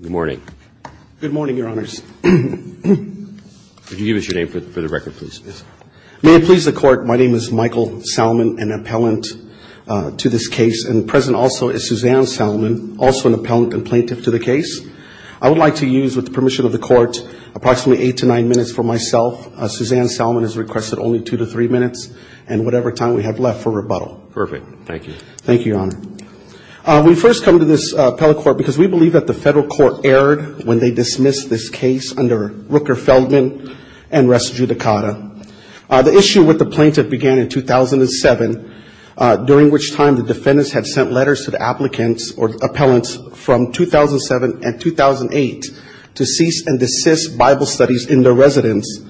Good morning. Good morning, Your Honors. Could you give us your name for the record, please? May it please the Court, my name is Michael Salman, an appellant to this case, and present also is Suzanne Salman, also an appellant and plaintiff to the case. I would like to use, with the permission of the Court, approximately eight to nine minutes for myself. Suzanne Salman has requested only two to three minutes and whatever time we have left for rebuttal. Perfect. Thank you. Thank you, Your Honor. We first come to this appellate court because we believe that the federal court erred when they dismissed this case under Rooker-Feldman and Res Judicata. The issue with the plaintiff began in 2007, during which time the defendants had sent letters to the applicants or appellants from 2007 and 2008 to cease and desist Bible studies in their residence.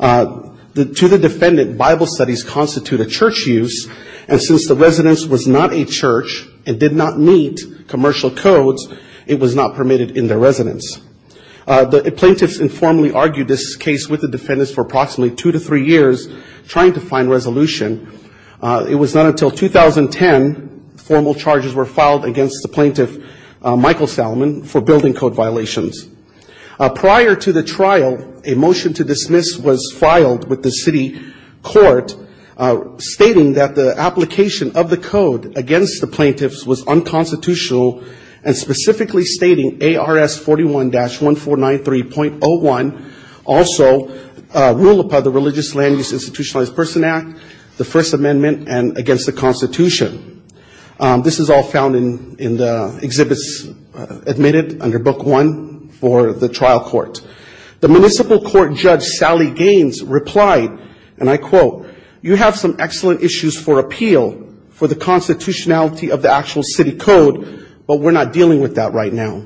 To the defendant, Bible studies constitute a church use, and since the residence was not a church and did not meet commercial codes, it was not permitted in their residence. The plaintiffs informally argued this case with the defendants for approximately two to three years, trying to find resolution. It was not until 2010 formal charges were filed against the plaintiff, Michael Salman, for building code violations. Prior to the trial, a motion to dismiss was filed with the city court, stating that the application of the code against the plaintiffs was unconstitutional, and specifically stating ARS 41-1493.01, also rule upon the Religious Land Use Institutionalized Person Act, the First Amendment, and against the Constitution. This is all found in the exhibits admitted under book one for the trial court. The municipal court judge, Sally Gaines, replied, and I quote, you have some excellent issues for appeal for the constitutionality of the actual city code, but we're not dealing with that right now.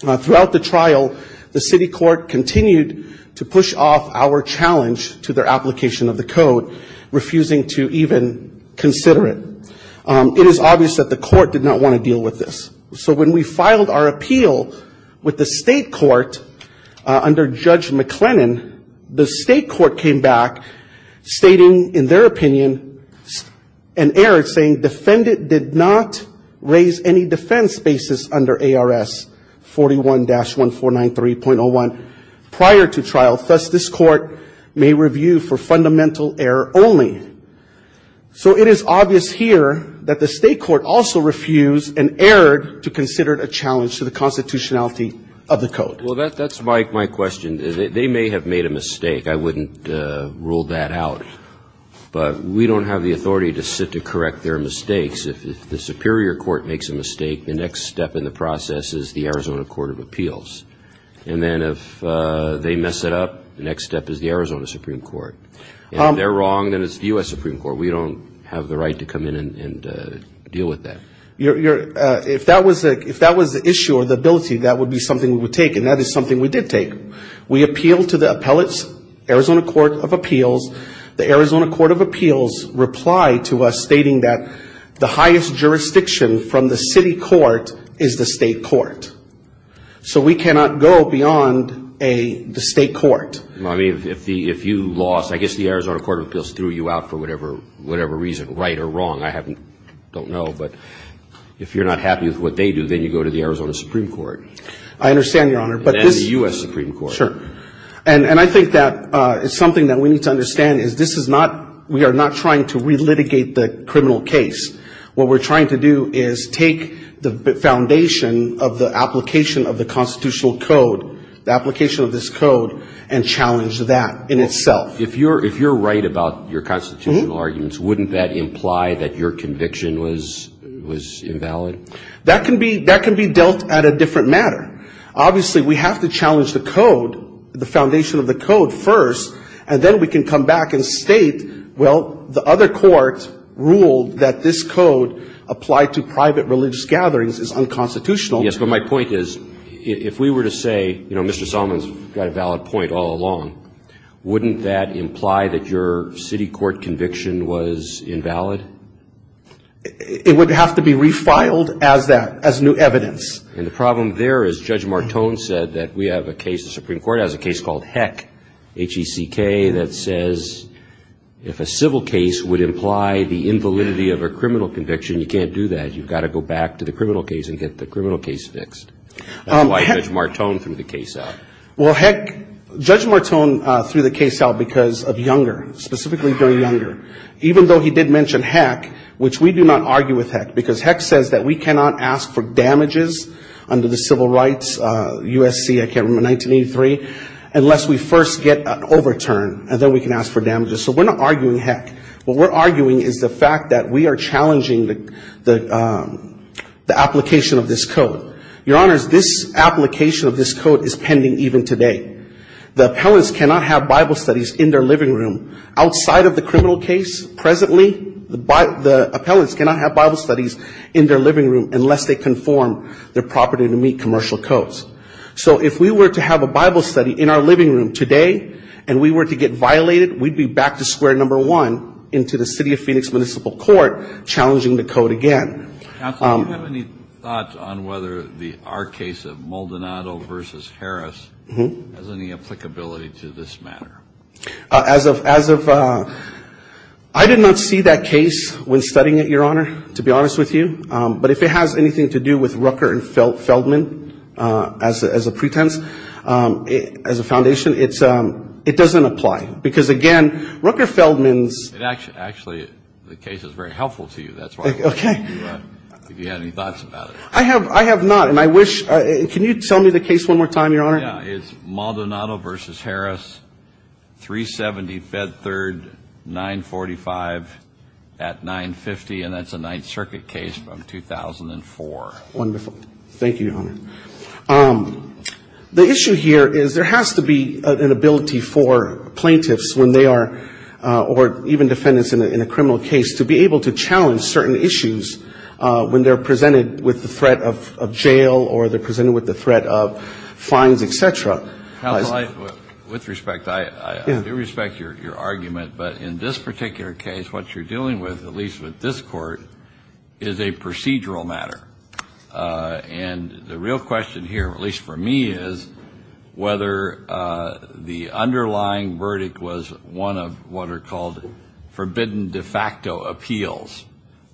Throughout the trial, the city court continued to push off our challenge to their application of the code, refusing to even consider it. It is obvious that the court did not want to deal with this. So when we filed our appeal with the state court under Judge McLennan, the state court came back stating, in their opinion, an error saying, defendant did not raise any defense basis under ARS 41-1493.01 prior to trial, thus this court may review for fundamental error only. So it is obvious here that the state court also refused and erred to consider it a challenge to the constitutionality of the code. Well, that's my question. They may have made a mistake. I wouldn't rule that out. But we don't have the authority to sit to correct their mistakes. If the superior court makes a mistake, the next step in the process is the Arizona Court of Appeals. And then if they mess it up, the next step is the Arizona Supreme Court. And if they're wrong, then it's the U.S. Supreme Court. We don't have the right to come in and deal with that. If that was the issue or the ability, that would be something we would take, and that is something we did take. We appealed to the appellate's Arizona Court of Appeals. The Arizona Court of Appeals replied to us stating that the highest jurisdiction from the city court is the state court. So we cannot go beyond the state court. I mean, if you lost, I guess the Arizona Court of Appeals threw you out for whatever reason, right or wrong, I don't know. But if you're not happy with what they do, then you go to the Arizona Supreme Court. I understand, Your Honor. And then the U.S. Supreme Court. Sure. And I think that is something that we need to understand is this is not, we are not trying to relitigate the criminal case. What we're trying to do is take the foundation of the application of the constitutional code, the application of this code, and challenge that in itself. If you're right about your constitutional arguments, wouldn't that imply that your conviction was invalid? That can be dealt at a different matter. Obviously, we have to challenge the code, the foundation of the code first, and then we can come back and state, well, the other court ruled that this code applied to private religious gatherings is unconstitutional. Yes, but my point is, if we were to say, you know, Mr. Zalman's got a valid point all along, wouldn't that imply that your city court conviction was invalid? It would have to be refiled as that, as new evidence. And the problem there is Judge Martone said that we have a case, the Supreme Court has a case called Heck, H-E-C-K, that says if a civil case would imply the invalidity of a criminal conviction, you can't do that. You've got to go back to the criminal case and get the criminal case fixed. That's why Judge Martone threw the case out. Well, Heck, Judge Martone threw the case out because of Younger, specifically during Younger. Even though he did mention Heck, which we do not argue with Heck, because Heck says that we cannot ask for damages under the civil rights USC, I can't remember, 1983, unless we first get an overturn, and then we can ask for damages. So we're not arguing Heck. What we're arguing is the fact that we are challenging the application of this code. Your Honors, this application of this code is pending even today. The appellants cannot have Bible studies in their living room outside of the criminal case presently. The appellants cannot have Bible studies in their living room unless they conform their property to meet commercial codes. So if we were to have a Bible study in our living room today and we were to get violated, we'd be back to square number one into the City of Phoenix Municipal Court challenging the code again. Counsel, do you have any thoughts on whether our case of Maldonado v. Harris has any applicability to this matter? As of, I did not see that case when studying it, Your Honor, to be honest with you. But if it has anything to do with Rooker and Feldman as a pretense, as a foundation, it doesn't apply. Because, again, Rooker-Feldman's... Actually, the case is very helpful to you. That's why I'm asking you if you have any thoughts about it. I have not. And I wish... Can you tell me the case one more time, Your Honor? Yeah. It's Maldonado v. Harris, 370 Fed Third, 945 at 950. And that's a Ninth Circuit case from 2004. Wonderful. Thank you, Your Honor. The issue here is there has to be an ability for plaintiffs when they are... Even defendants in a criminal case, to be able to challenge certain issues when they're presented with the threat of jail or they're presented with the threat of fines, et cetera. Counsel, with respect, I do respect your argument, but in this particular case, what you're dealing with, at least with this Court, is a procedural matter. And the real question here, at least for me, is whether the underlying verdict was one of what are called forbidden de facto appeals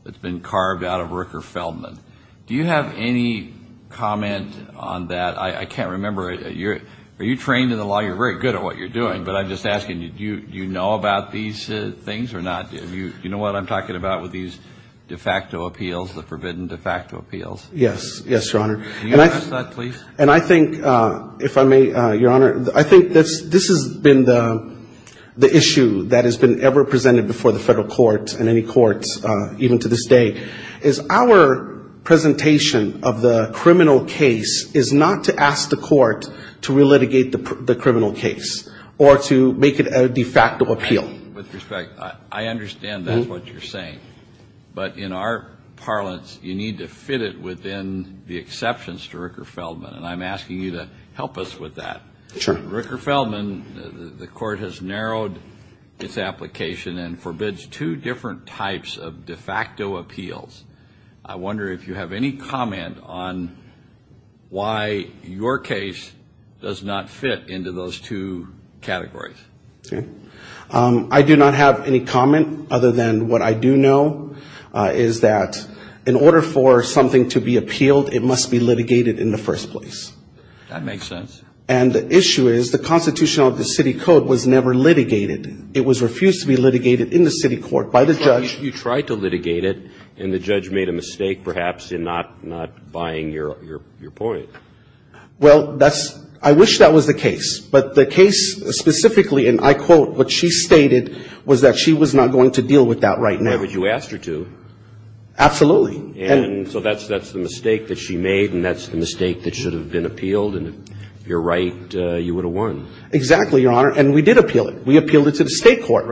that's been carved out of Rooker-Feldman. Do you have any comment on that? I can't remember. Are you trained in the law? You're very good at what you're doing, but I'm just asking you, do you know about these things or not? Do you know what I'm talking about with these de facto appeals, the forbidden de facto appeals? Yes. Yes, Your Honor. And I think, if I may, Your Honor, I think this has been the issue that has been ever presented before the Federal Court and any courts even to this day, is our presentation of the criminal case is not to ask the Court to relitigate the criminal case or to make it a de facto appeal. With respect, I understand that's what you're saying, but in our parlance, you need to fit it within the acceptance to Rooker-Feldman, and I'm asking you to help us with that. Rooker-Feldman, the Court has narrowed its application and forbids two different types of de facto appeals. I wonder if you have any comment on why your case does not fit into those two categories. I do not have any comment other than what I do know is that in order for something to be appealed, it must be litigated in the first place. That makes sense. And the issue is the Constitution of the city code was never litigated. It was refused to be litigated in the city court by the judge. But you tried to litigate it, and the judge made a mistake, perhaps, in not buying your point. Well, I wish that was the case. But the case specifically, and I quote, what she stated was that she was not going to deal with that right now. Why would you ask her to? Absolutely. And so that's the mistake that she made, and that's the mistake that should have been appealed, and if you're right, you would have won. Exactly, Your Honor, and we did appeal it. We appealed it to the state court,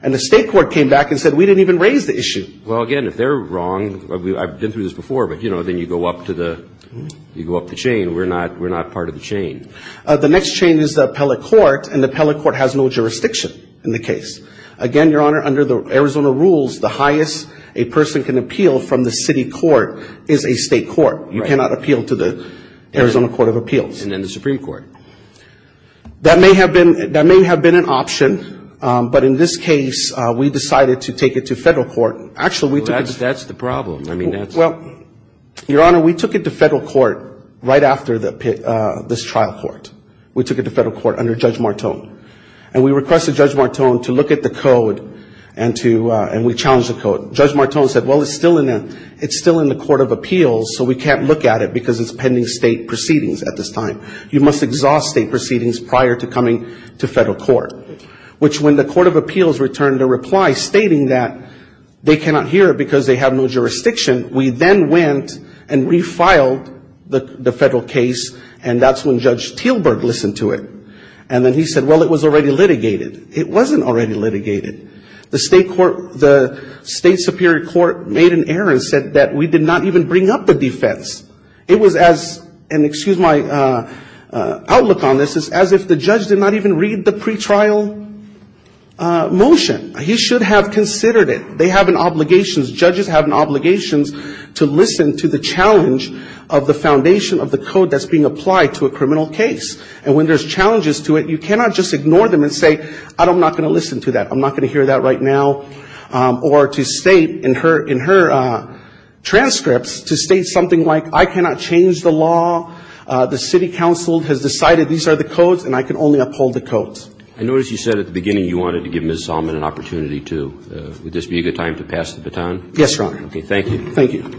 and the state court came back and said we didn't even raise the issue. Well, again, if they're wrong, I've been through this before, but then you go up the chain. We're not part of the chain. The next chain is the appellate court, and the appellate court has no jurisdiction in the case. Again, Your Honor, under the Arizona rules, the highest a person can appeal from the city court is a state court. Right. You cannot appeal to the Arizona Court of Appeals. And then the Supreme Court. That may have been an option, but in this case, we decided to take it to federal court. That's the problem. Well, Your Honor, we took it to federal court right after this trial court. We took it to federal court under Judge Martone, and we requested Judge Martone to look at the code, and we challenged the code. Judge Martone said, well, it's still in the court of appeals, so we can't look at it because it's pending state proceedings at this time. You must exhaust state proceedings prior to coming to federal court, which when the court of appeals returned a reply stating that they cannot hear it because they have no jurisdiction, we then went and refiled the federal case, and that's when Judge Teelberg listened to it. And then he said, well, it was already litigated. It wasn't already litigated. The state court, the state superior court made an error and said that we did not even bring up the defense. It was as, and excuse my outlook on this, as if the judge did not even read the pretrial motion. He should have considered it. They have an obligation, judges have an obligation to listen to the challenge of the foundation of the code that's being applied to a criminal case, and when there's challenges to it, you cannot just ignore them and say, I'm not going to listen to that. I'm not going to hear that right now. And so I think it's important for Ms. Salmon to be able to come forward and say, I'm not going to listen to that. I'm not going to hear that right now. Or to state in her transcripts, to state something like, I cannot change the law. The city council has decided these are the codes, and I can only uphold the codes. I notice you said at the beginning you wanted to give Ms. Salmon an opportunity, too. Would this be a good time to pass the baton? Yes, Your Honor. Okay, thank you.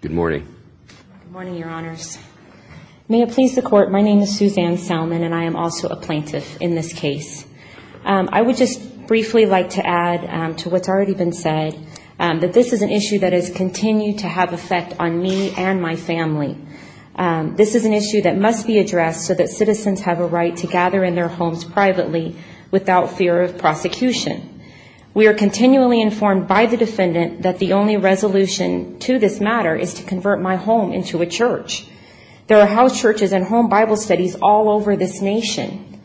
Good morning. Good morning, Your Honors. May it please the Court, my name is Suzanne Salmon, and I am also a plaintiff in this case. I would just briefly like to add to what's already been said, that this is an issue that has continued to have effect on me and my family. This is an issue that must be addressed so that citizens have a right to gather in their homes privately without fear of prosecution. We are continually informed by the defendant that the only resolution to this matter is to convert my home into a church. There are house churches and home Bible studies all over this nation.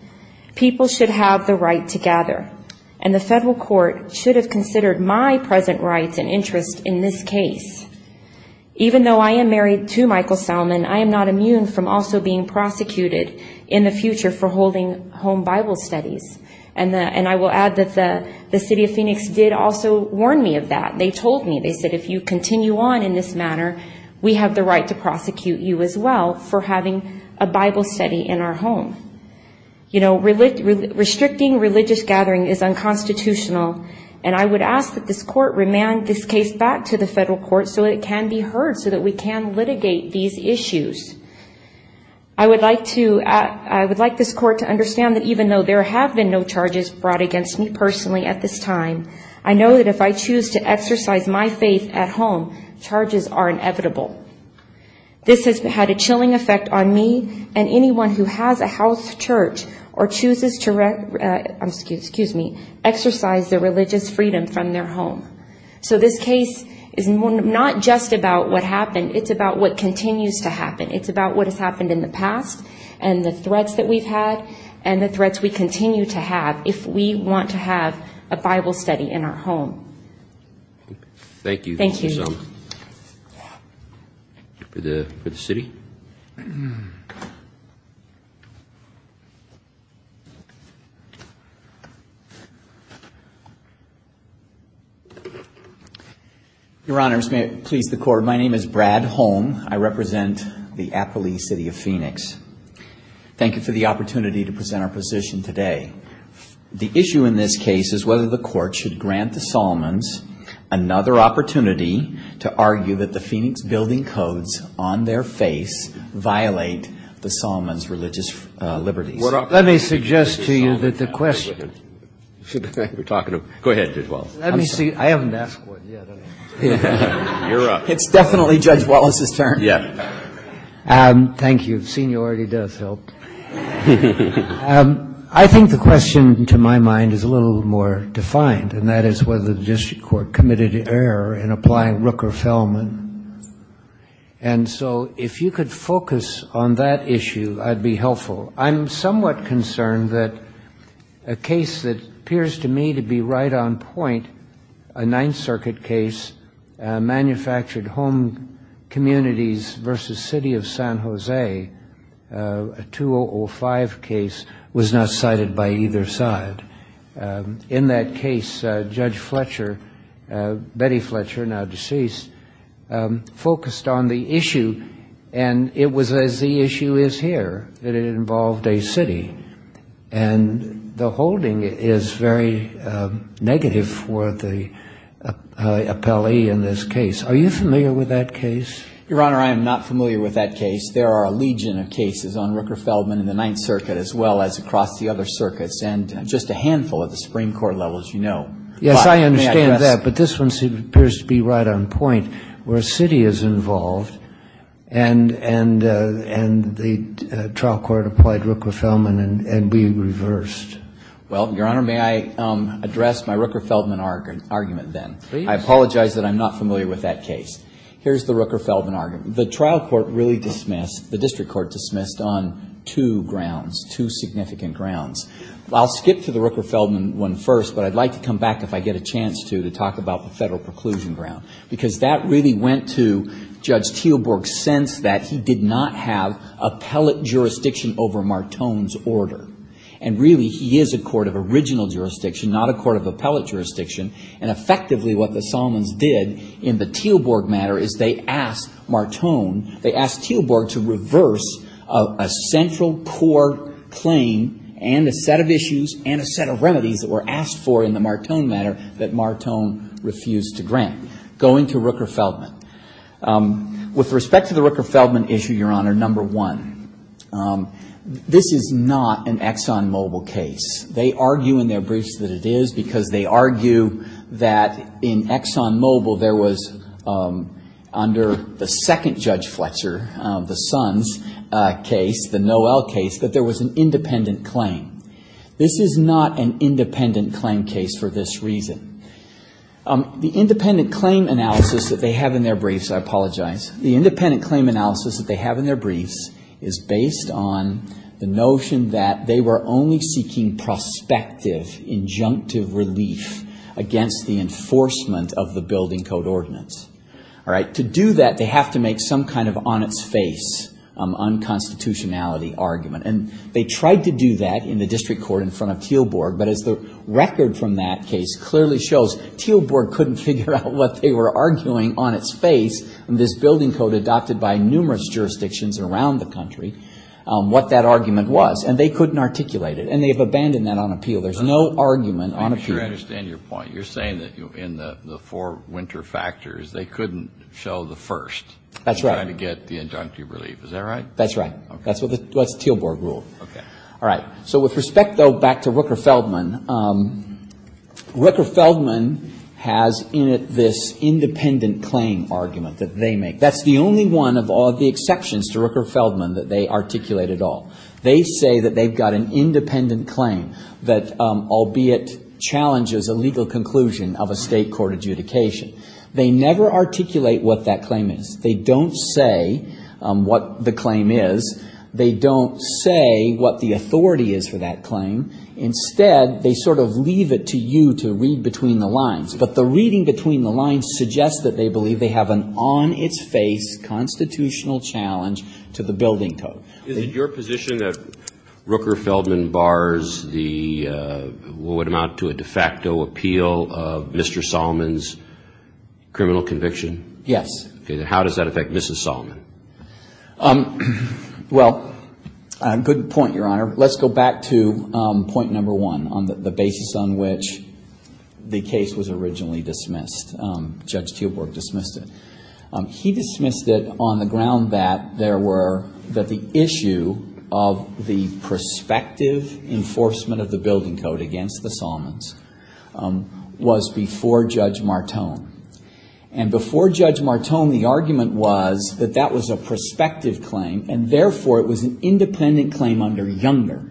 People should have the right to gather, and the federal court should have considered my present rights and interests in this case. Even though I am married to Michael Salmon, I am not immune from also being prosecuted in the future for holding home Bible studies. And I will add that the city of Phoenix did also warn me of that. They told me, they said, if you continue on in this manner, we have the right to prosecute you as well for having a Bible study in our home. You know, restricting religious gathering is unconstitutional, and I would ask that this court remand this case back to the federal court so that it can be heard, so that we can litigate these issues. I would like to, I would like this court to understand that even though there have been no charges brought against me personally at this time, I know that if I choose to exercise my faith at home, charges are inevitable. This has had a chilling effect on me and anyone who has a house church or chooses to, excuse me, exercise their religious freedom from their home. So this case is not just about what happened, it's about what continues to happen. It's about what has happened in the past and the threats that we've had and the threats we continue to have if we want to have a Bible study in our home. Thank you. Thank you. Your Honors, may it please the Court, my name is Brad Holm, I represent the Appalachee City of Phoenix. Thank you for the opportunity to present our position today. The issue in this case is whether the Court should grant the Solomons another opportunity to argue that the Phoenix Building Codes, on their face, violate the Solomons' religious liberties. Let me suggest to you that the question should be, we're talking about, go ahead, Judge Wallace. Let me see, I haven't asked one yet. It's definitely Judge Wallace's turn. Thank you, seniority does help. I think the question, to my mind, is a little more defined, and that is whether the District Court committed error in applying Rook or Fellman. And so if you could focus on that issue, I'd be helpful. I'm somewhat concerned that a case that appears to me to be right on point, a Ninth Circuit case, manufactured home communities versus City of San Jose, a two-hour case, a 2005 case, was not cited by either side. In that case, Judge Fletcher, Betty Fletcher, now deceased, focused on the issue, and it was as the issue is here, that it involved a city. And the holding is very negative for the appellee in this case. Are you familiar with that case? And the trial court applied Rook or Fellman in the Ninth Circuit as well as across the other circuits, and just a handful of the Supreme Court levels, you know. Yes, I understand that, but this one appears to be right on point, where a city is involved, and the trial court applied Rook or Fellman and we reversed. Well, Your Honor, may I address my Rook or Fellman argument then? Please. I apologize that I'm not familiar with that case. Here's the Rook or Fellman argument. The trial court really dismissed, the district court dismissed, on two grounds, two significant grounds. I'll skip to the Rook or Fellman one first, but I'd like to come back if I get a chance to, to talk about the federal preclusion ground, because that really went to Judge Teelborg's sense that he did not have appellate jurisdiction over Martone's order. And what the Solomons did in the Teelborg matter is they asked Martone, they asked Teelborg to reverse a central core claim and a set of issues and a set of remedies that were asked for in the Martone matter that Martone refused to grant. Going to Rook or Fellman. With respect to the Rook or Fellman issue, Your Honor, number one, this is not an ExxonMobil case. They argue in their briefs that it is because they argue that in ExxonMobil there was, under the second Judge Fletcher, the Sons case, the Noel case, that there was an independent claim. This is not an independent claim case for this reason. The independent claim analysis that they have in their briefs, I apologize, the independent claim analysis that they have in their briefs is based on the notion that they were only seeking prospective injunctive relief against the enforcement of the building code ordinance. To do that, they have to make some kind of on-its-face unconstitutionality argument. And they tried to do that in the district court in front of Teelborg, but as the record from that case clearly shows, Teelborg couldn't figure out what they were arguing on its face in this building code adopted by numerous jurisdictions around the country, what that argument was. They couldn't articulate it, and they have abandoned that on appeal. There's no argument on appeal. Kennedy. I'm sure I understand your point. You're saying that in the four winter factors, they couldn't show the first to try to get the injunctive relief. Is that right? That's right. That's what Teelborg ruled. All right. So with respect, though, back to Rooker-Feldman, Rooker-Feldman has in it this independent claim argument that they make. That's the only one of all the exceptions to Rooker-Feldman that they articulate at all. They say that they've got an independent claim that albeit challenges a legal conclusion of a state court adjudication. They never articulate what that claim is. They don't say what the claim is. They don't say what the authority is for that claim. Instead, they sort of leave it to you to read between the lines. But the reading between the lines suggests that they believe they have an on-its-face constitutional challenge to the building code. Is it your position that Rooker-Feldman bars what would amount to a de facto appeal of Mr. Solomon's criminal conviction? Yes. How does that affect Mrs. Solomon? Well, good point, Your Honor. Let's go back to point number one on the basis on which the case was originally dismissed. Judge Teelborg dismissed it. He dismissed it on the ground that there were, that the issue of the prospective enforcement of the building code against the Solomons was before Judge Martone. And before Judge Martone, the argument was that that was a prospective claim, and therefore, it was an independent claim under Younger.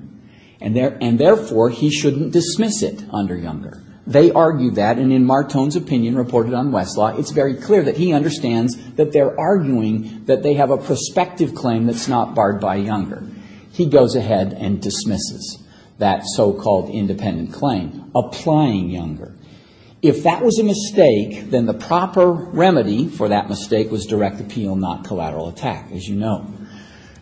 And therefore, he shouldn't dismiss it under Younger. They argued that, and in Martone's opinion, reported on Westlaw, it's very clear that he understands that they're arguing that they have a prospective claim that's not barred by Younger. He goes ahead and dismisses that so-called independent claim, applying Younger. If that was a mistake, then the proper remedy for that mistake was direct appeal, not collateral attack, as you know.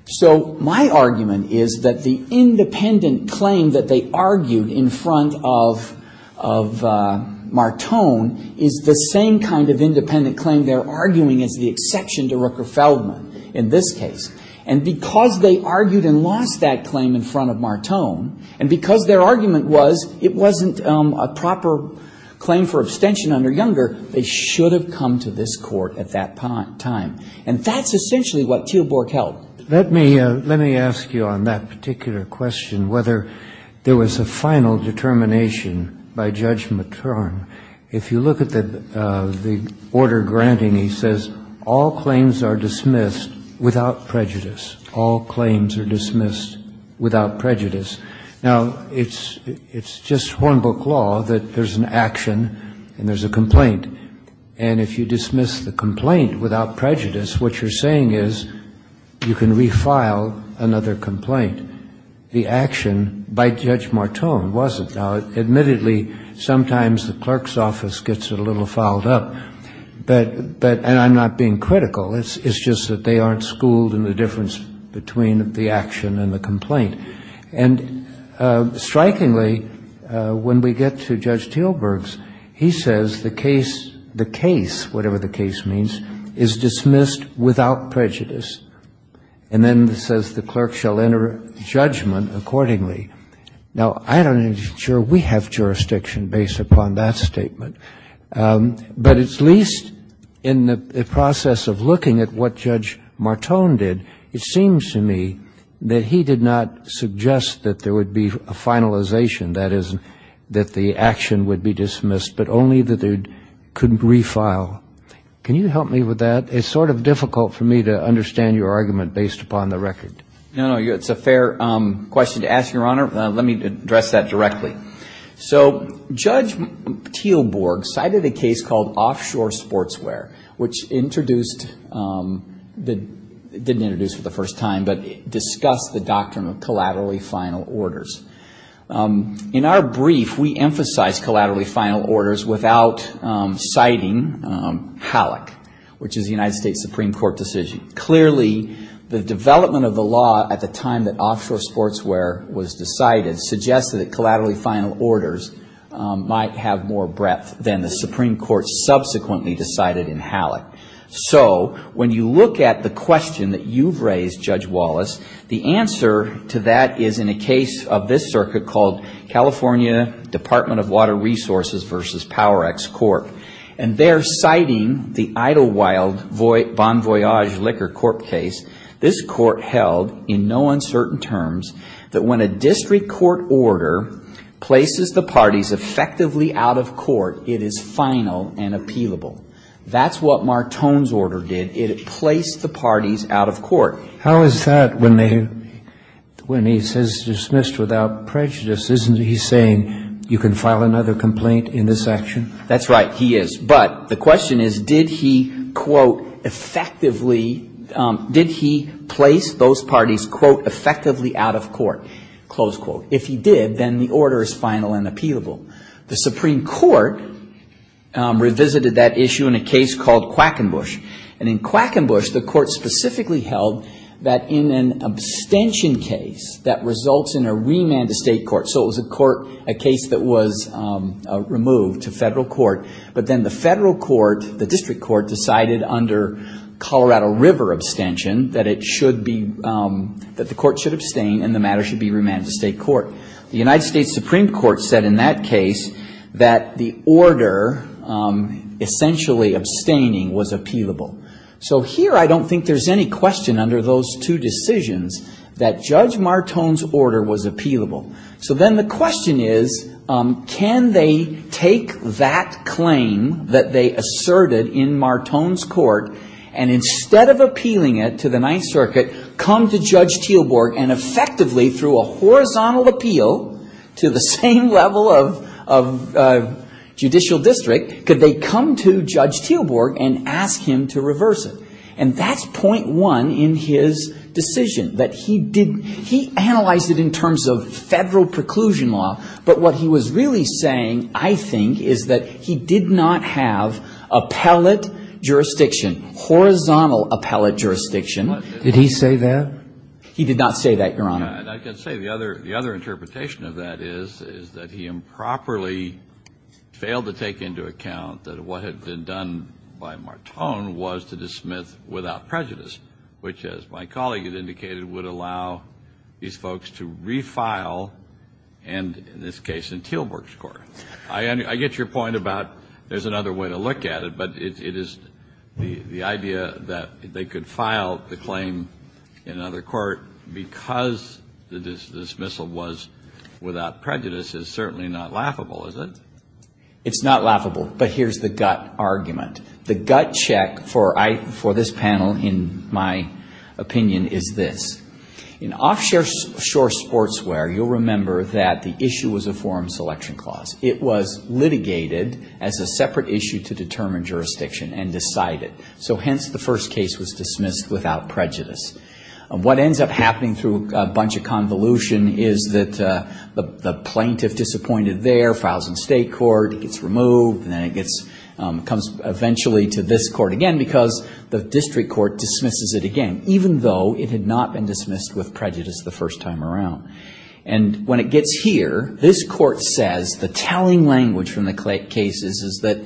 So my argument is that the independent claim that they argued in front of Judge Martone is the same kind of independent claim they're arguing as the exception to Rooker-Feldman in this case. And because they argued and lost that claim in front of Martone, and because their argument was it wasn't a proper claim for abstention under Younger, they should have come to this Court at that time. And that's essentially what Teelborg held. Let me ask you on that particular question whether there was a final determination by Judge Martone. If you look at the order granting, he says all claims are dismissed without prejudice. All claims are dismissed without prejudice. Now, it's just Hornbook law that there's an action and there's a complaint. And if you dismiss the complaint without prejudice, what you're saying is you can refile another complaint. The action by Judge Martone wasn't. Now, admittedly, sometimes the clerk's office gets it a little fouled up. And I'm not being critical. It's just that they aren't schooled in the difference between the action and the complaint. And strikingly, when we get to Judge Teelborg's, he says the case, the case, whatever the case means, is dismissed without prejudice. And then it says the clerk shall enter judgment accordingly. Now, I don't know that we have jurisdiction based upon that statement. But at least in the process of looking at what Judge Martone did, it seems to me that he did not suggest that there would be a finalization. That is, that the action would be dismissed, but only that it couldn't refile. Can you help me with that? It's sort of difficult for me to understand your argument based upon the record. No, no, it's a fair question to ask, Your Honor. Let me address that directly. So Judge Teelborg cited a case called Offshore Sportswear, which introduced, didn't introduce for the first time, but discussed the doctrine of collaterally final orders. In our brief, we emphasize collaterally final orders without citing HALOC, which is the United States Supreme Court decision. Clearly, the development of the law at the time that Offshore Sportswear was decided suggested that collaterally final orders might have more breadth than the Supreme Court subsequently decided in HALOC. So when you look at the question that you've raised, Judge Wallace, the answer to that is in a case of this circuit called California Department of Water Resources v. Power X Corp. And there, citing the Idlewild Bon Voyage Liquor Corp. case, this court held in no uncertain terms that when a district court order places the parties effectively out of court, it is final and appealable. That's what Martone's order did. It placed the parties out of court. How is that when he says dismissed without prejudice? Isn't he saying you can file another complaint in this section? That's right, he is. But the question is, did he, quote, effectively, did he place those parties, quote, effectively out of court? Close quote. If he did, then the order is final and appealable. The Supreme Court revisited that issue in a case called Quackenbush. And in Quackenbush, the court specifically held that in an abstention case that results in a remand-to-state court, so it was a court, a case that was removed to federal court, but then the federal court, the district court, decided under Colorado River abstention that it should be, that the court should abstain and the matter should be remand-to-state court. The United States Supreme Court said in that case that the order essentially abstaining was appealable. So here I don't think there's any question under those two decisions that Judge Martone's order was appealable. So then the question is, can they take that claim that they asserted in Martone's court and instead of appealing it to the Ninth District, could they appeal to the same level of judicial district, could they come to Judge Teelborg and ask him to reverse it? And that's point one in his decision, that he did, he analyzed it in terms of federal preclusion law, but what he was really saying, I think, is that he did not have appellate jurisdiction, horizontal appellate jurisdiction. Did he say that? He did not say that, Your Honor. And I can say the other interpretation of that is, is that he improperly failed to take into account that what had been done by Martone was to dismiss without prejudice, which, as my colleague had indicated, would allow these folks to refile and, in this case, in Teelborg's court. I get your point about there's another way to look at it, but it is the idea that they could file the claim in another court because the dismissal was without prejudice is certainly not laughable, is it? It's not laughable, but here's the gut argument. The gut check for this panel, in my opinion, is this. In offshore sportswear, you'll remember that the issue was a forum selection clause. It was litigated as a separate issue to determine jurisdiction and decided. So hence, the first case was dismissed without prejudice. What ends up happening through a bunch of convolution is that the plaintiff disappointed there, files in state court, it gets removed, and then it comes eventually to this court again because the district court dismisses it again, even though it had not been dismissed with prejudice the first time around. And when it gets here, this court says the telling language from the cases is that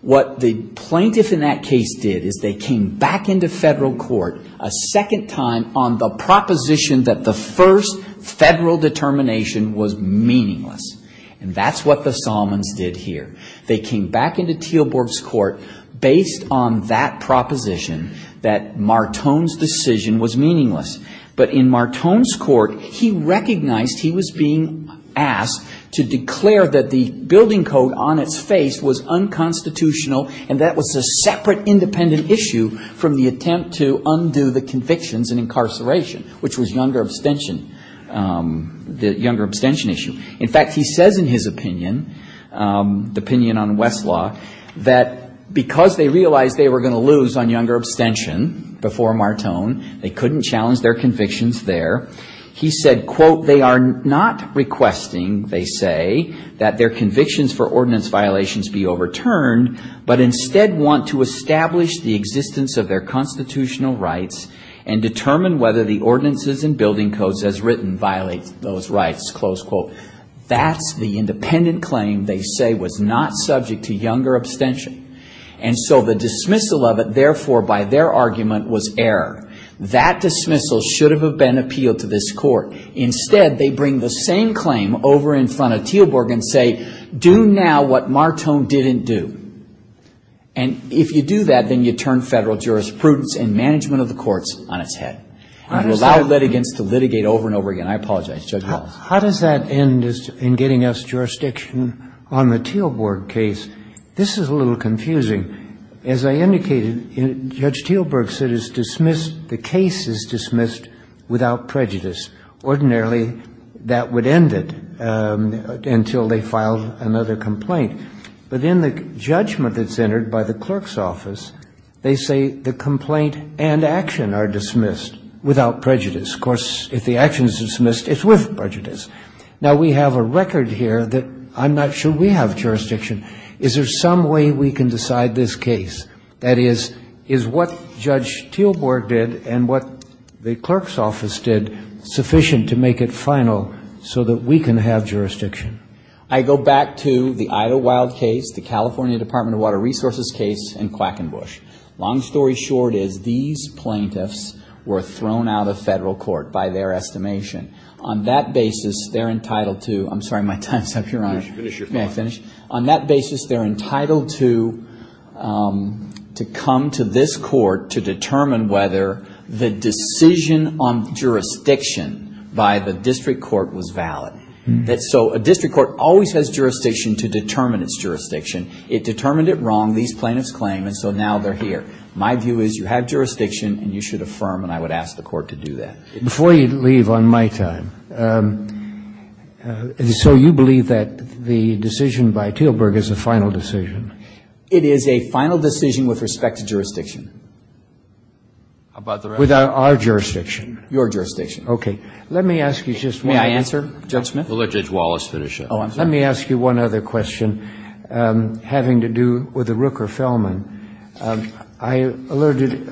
what the plaintiff in that case did is they came back into federal court a second time on the proposition that the first federal determination was meaningless. And that's what the Solomons did here. They came back into Teelborg's court based on that proposition that Martone's decision was meaningless. But in Martone's court, he recognized he was being asked to declare that the building code on its face was unconstitutional, and that was a separate independent issue from the attempt to undo the convictions in incarceration, which was younger abstention, the younger abstention issue. In fact, he says in his opinion, the opinion on Westlaw, that because they realized they were going to lose on younger abstention before Martone, they couldn't challenge their convictions there. He said, quote, they are not requesting, they say, that their convictions for ordinance violations be overturned, but instead want to establish the existence of their constitutional rights and determine whether the ordinances and building codes as they say was not subject to younger abstention. And so the dismissal of it, therefore, by their argument was error. That dismissal should have been appealed to this court. Instead, they bring the same claim over in front of Teelborg and say, do now what Martone didn't do. And if you do that, then you turn federal jurisprudence and management of the courts on its head. And you allow litigants to litigate over and over again. I apologize, Judge Wallace. How does that end in getting us jurisdiction on the Teelborg case? This is a little confusing. As I indicated, Judge Teelborg said it's dismissed, the case is dismissed without prejudice. Ordinarily, that would end it until they filed another complaint. But in the judgment that's entered by the clerk's office, they say the complaint and action are dismissed without prejudice. Of course, if the action is dismissed, it's with prejudice. Now, we have a record here that I'm not sure we have jurisdiction. Is there some way we can decide this case? That is, is what Judge Teelborg did and what the clerk's office did sufficient to make it final so that we can have jurisdiction? I go back to the Idlewild case, the California Department of Water Resources case, and Quackenbush. Long story short is these plaintiffs were thrown out of federal court by their estimation. On that basis, they're entitled to — I'm sorry, my time's up, Your Honor. Finish your thought. On that basis, they're entitled to come to this court to determine whether the decision on jurisdiction by the district court was valid. So a district court always has jurisdiction to determine its jurisdiction. It determined it wrong, these plaintiffs claim, and so now they're here. My view is you have jurisdiction and you should affirm, and I would ask the court to do that. Before you leave on my time, so you believe that the decision by Teelborg is a final decision? It is a final decision with respect to jurisdiction. Without our jurisdiction? Your jurisdiction. Okay. Let me ask you just one other question. May I answer, Judge Smith? Let Judge Wallace finish up. Oh, I'm sorry. Let me ask you one other question having to do with the Rooker-Fellman. I alerted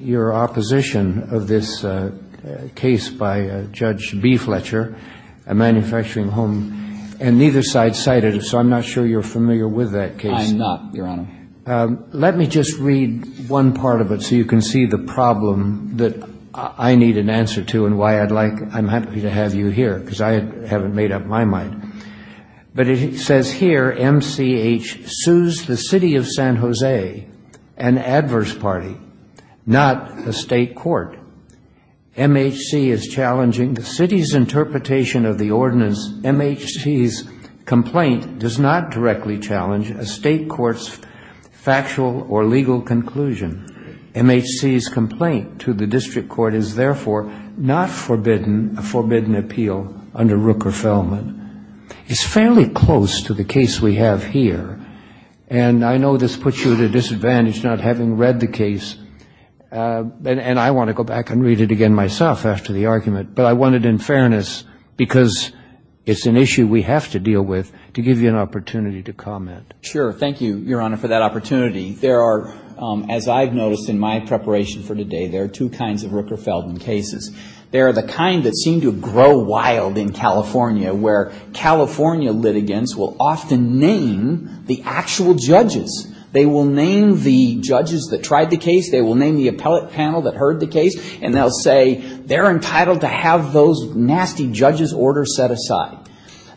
your opposition of this case by Judge B. Fletcher, a manufacturing home, and neither side cited it, so I'm not sure you're familiar with that case. I'm not, Your Honor. Let me just read one part of it so you can see the problem that I need an answer to and why I'd like — I'm happy to have you here, because I haven't made up my mind. But it says here, MCH sues the city of San Jose, an adverse party, not a state court. MHC is challenging the city's interpretation of the ordinance. MHC's complaint does not directly challenge a state court's factual or legal conclusion. MHC's complaint to the district court is therefore not forbidden, a forbidden appeal under Rooker-Fellman. It's fairly close to the case we have here, and I know this puts you at a disadvantage not having read the case. And I want to go back and read it again myself after the argument, but I want it in fairness, because it's an issue we have to deal with, to give you an opportunity to comment. Sure. Thank you, Your Honor, for that opportunity. There are, as I've noticed in my preparation for today, there are two kinds of Rooker-Fellman cases. They are the kind that seem to grow wild in California, where California litigants will often name the actual judges. They will name the judges that tried the case, they will name the appellate panel that heard the case, and they'll say they're entitled to have those nasty judges' orders set aside.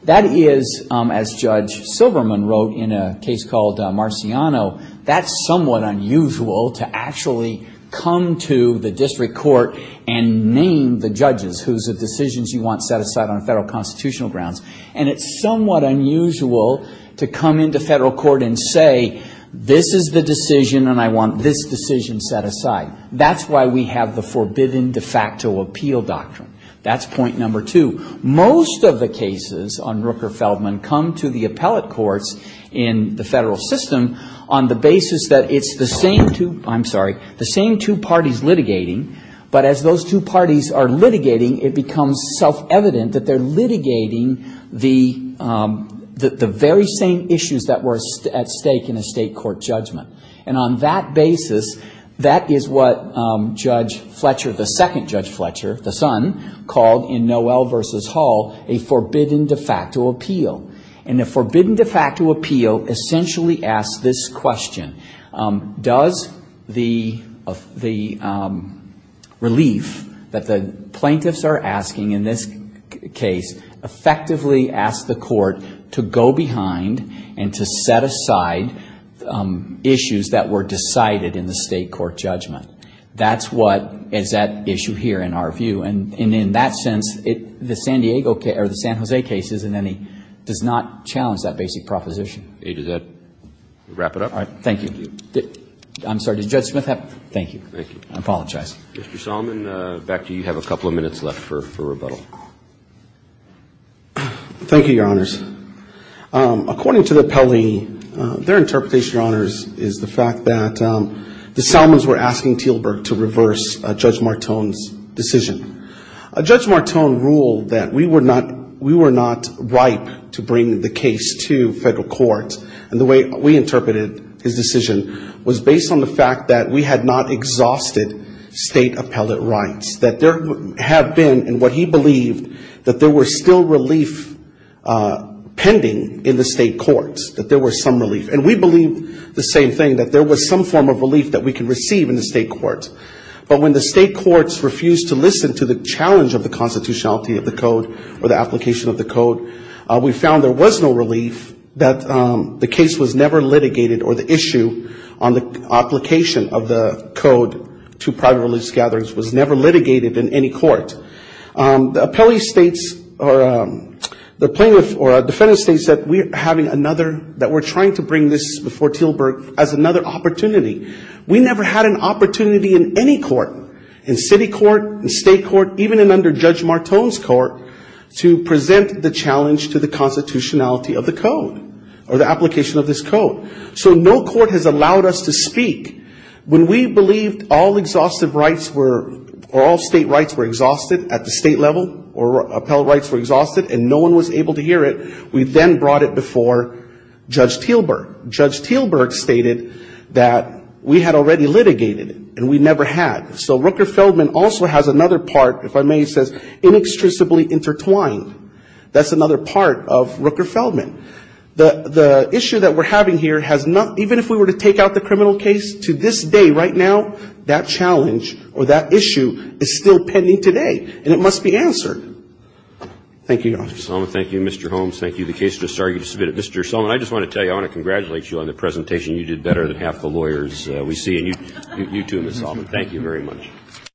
That is, as Judge Silverman wrote in a case called Marciano, that's somewhat unusual to actually come to the district court and name the judges. Whose decisions you want set aside on federal constitutional grounds, and it's somewhat unusual to come into federal court and say, this is the decision, and I want this decision set aside. That's why we have the forbidden de facto appeal doctrine. That's point number two. Most of the cases on Rooker-Fellman come to the appellate courts in the federal system on the basis that it's the same two, I'm sorry, the same two parties litigating, but as those two parties are litigating, it becomes self-evident that they're litigating the very same issues that were at stake in a state court judgment. And on that basis, that is what Judge Fletcher, the second Judge Fletcher, the son, called in Noel v. Hall a forbidden de facto appeal. And the forbidden de facto appeal essentially asks this question. It's a relief that the plaintiffs are asking in this case, effectively ask the court to go behind and to set aside issues that were decided in the state court judgment. That's what is at issue here in our view. And in that sense, the San Diego case, or the San Jose case, does not challenge that basic proposition. Thank you. Mr. Salmon, back to you. You have a couple of minutes left for rebuttal. Thank you, Your Honors. According to the appellee, their interpretation, Your Honors, is the fact that the Salmons were asking Teelberg to reverse Judge Martone's decision. Judge Martone ruled that we were not ripe to bring the case to federal court. And the way we interpreted his decision was based on the fact that we had not exhausted state appellate rights. That there have been, in what he believed, that there were still relief pending in the state courts, that there were some relief. And we believed the same thing, that there was some form of relief that we could receive in the state court. But when the state courts refused to listen to the challenge of the constitutionality of the code, or the application of the code, we found there was no relief, that the case was never litigated, or the issue on the application of the code to private release gatherings was never litigated in any court. The appellee states, or the plaintiff or defendant states that we're having another, that we're trying to bring this before Teelberg as another opportunity. We never had an opportunity in any court, in city court, in state court, even under Judge Martone's court, to present the challenge to the constitutionality of the code, or the application of this code. So no court has allowed us to speak. When we believed all exhaustive rights were, or all state rights were exhausted at the state level, or appellate rights were exhausted and no one was able to hear it, we then brought it before Judge Teelberg. Judge Teelberg stated that we had already litigated it, and we never had. So Rooker-Feldman also has another part, if I may say, inextricably intertwined. That's another part of Rooker-Feldman. The issue that we're having here has not, even if we were to take out the criminal case, to this day, right now, that challenge, or that issue, is still pending today, and it must be answered. Thank you, Your Honor.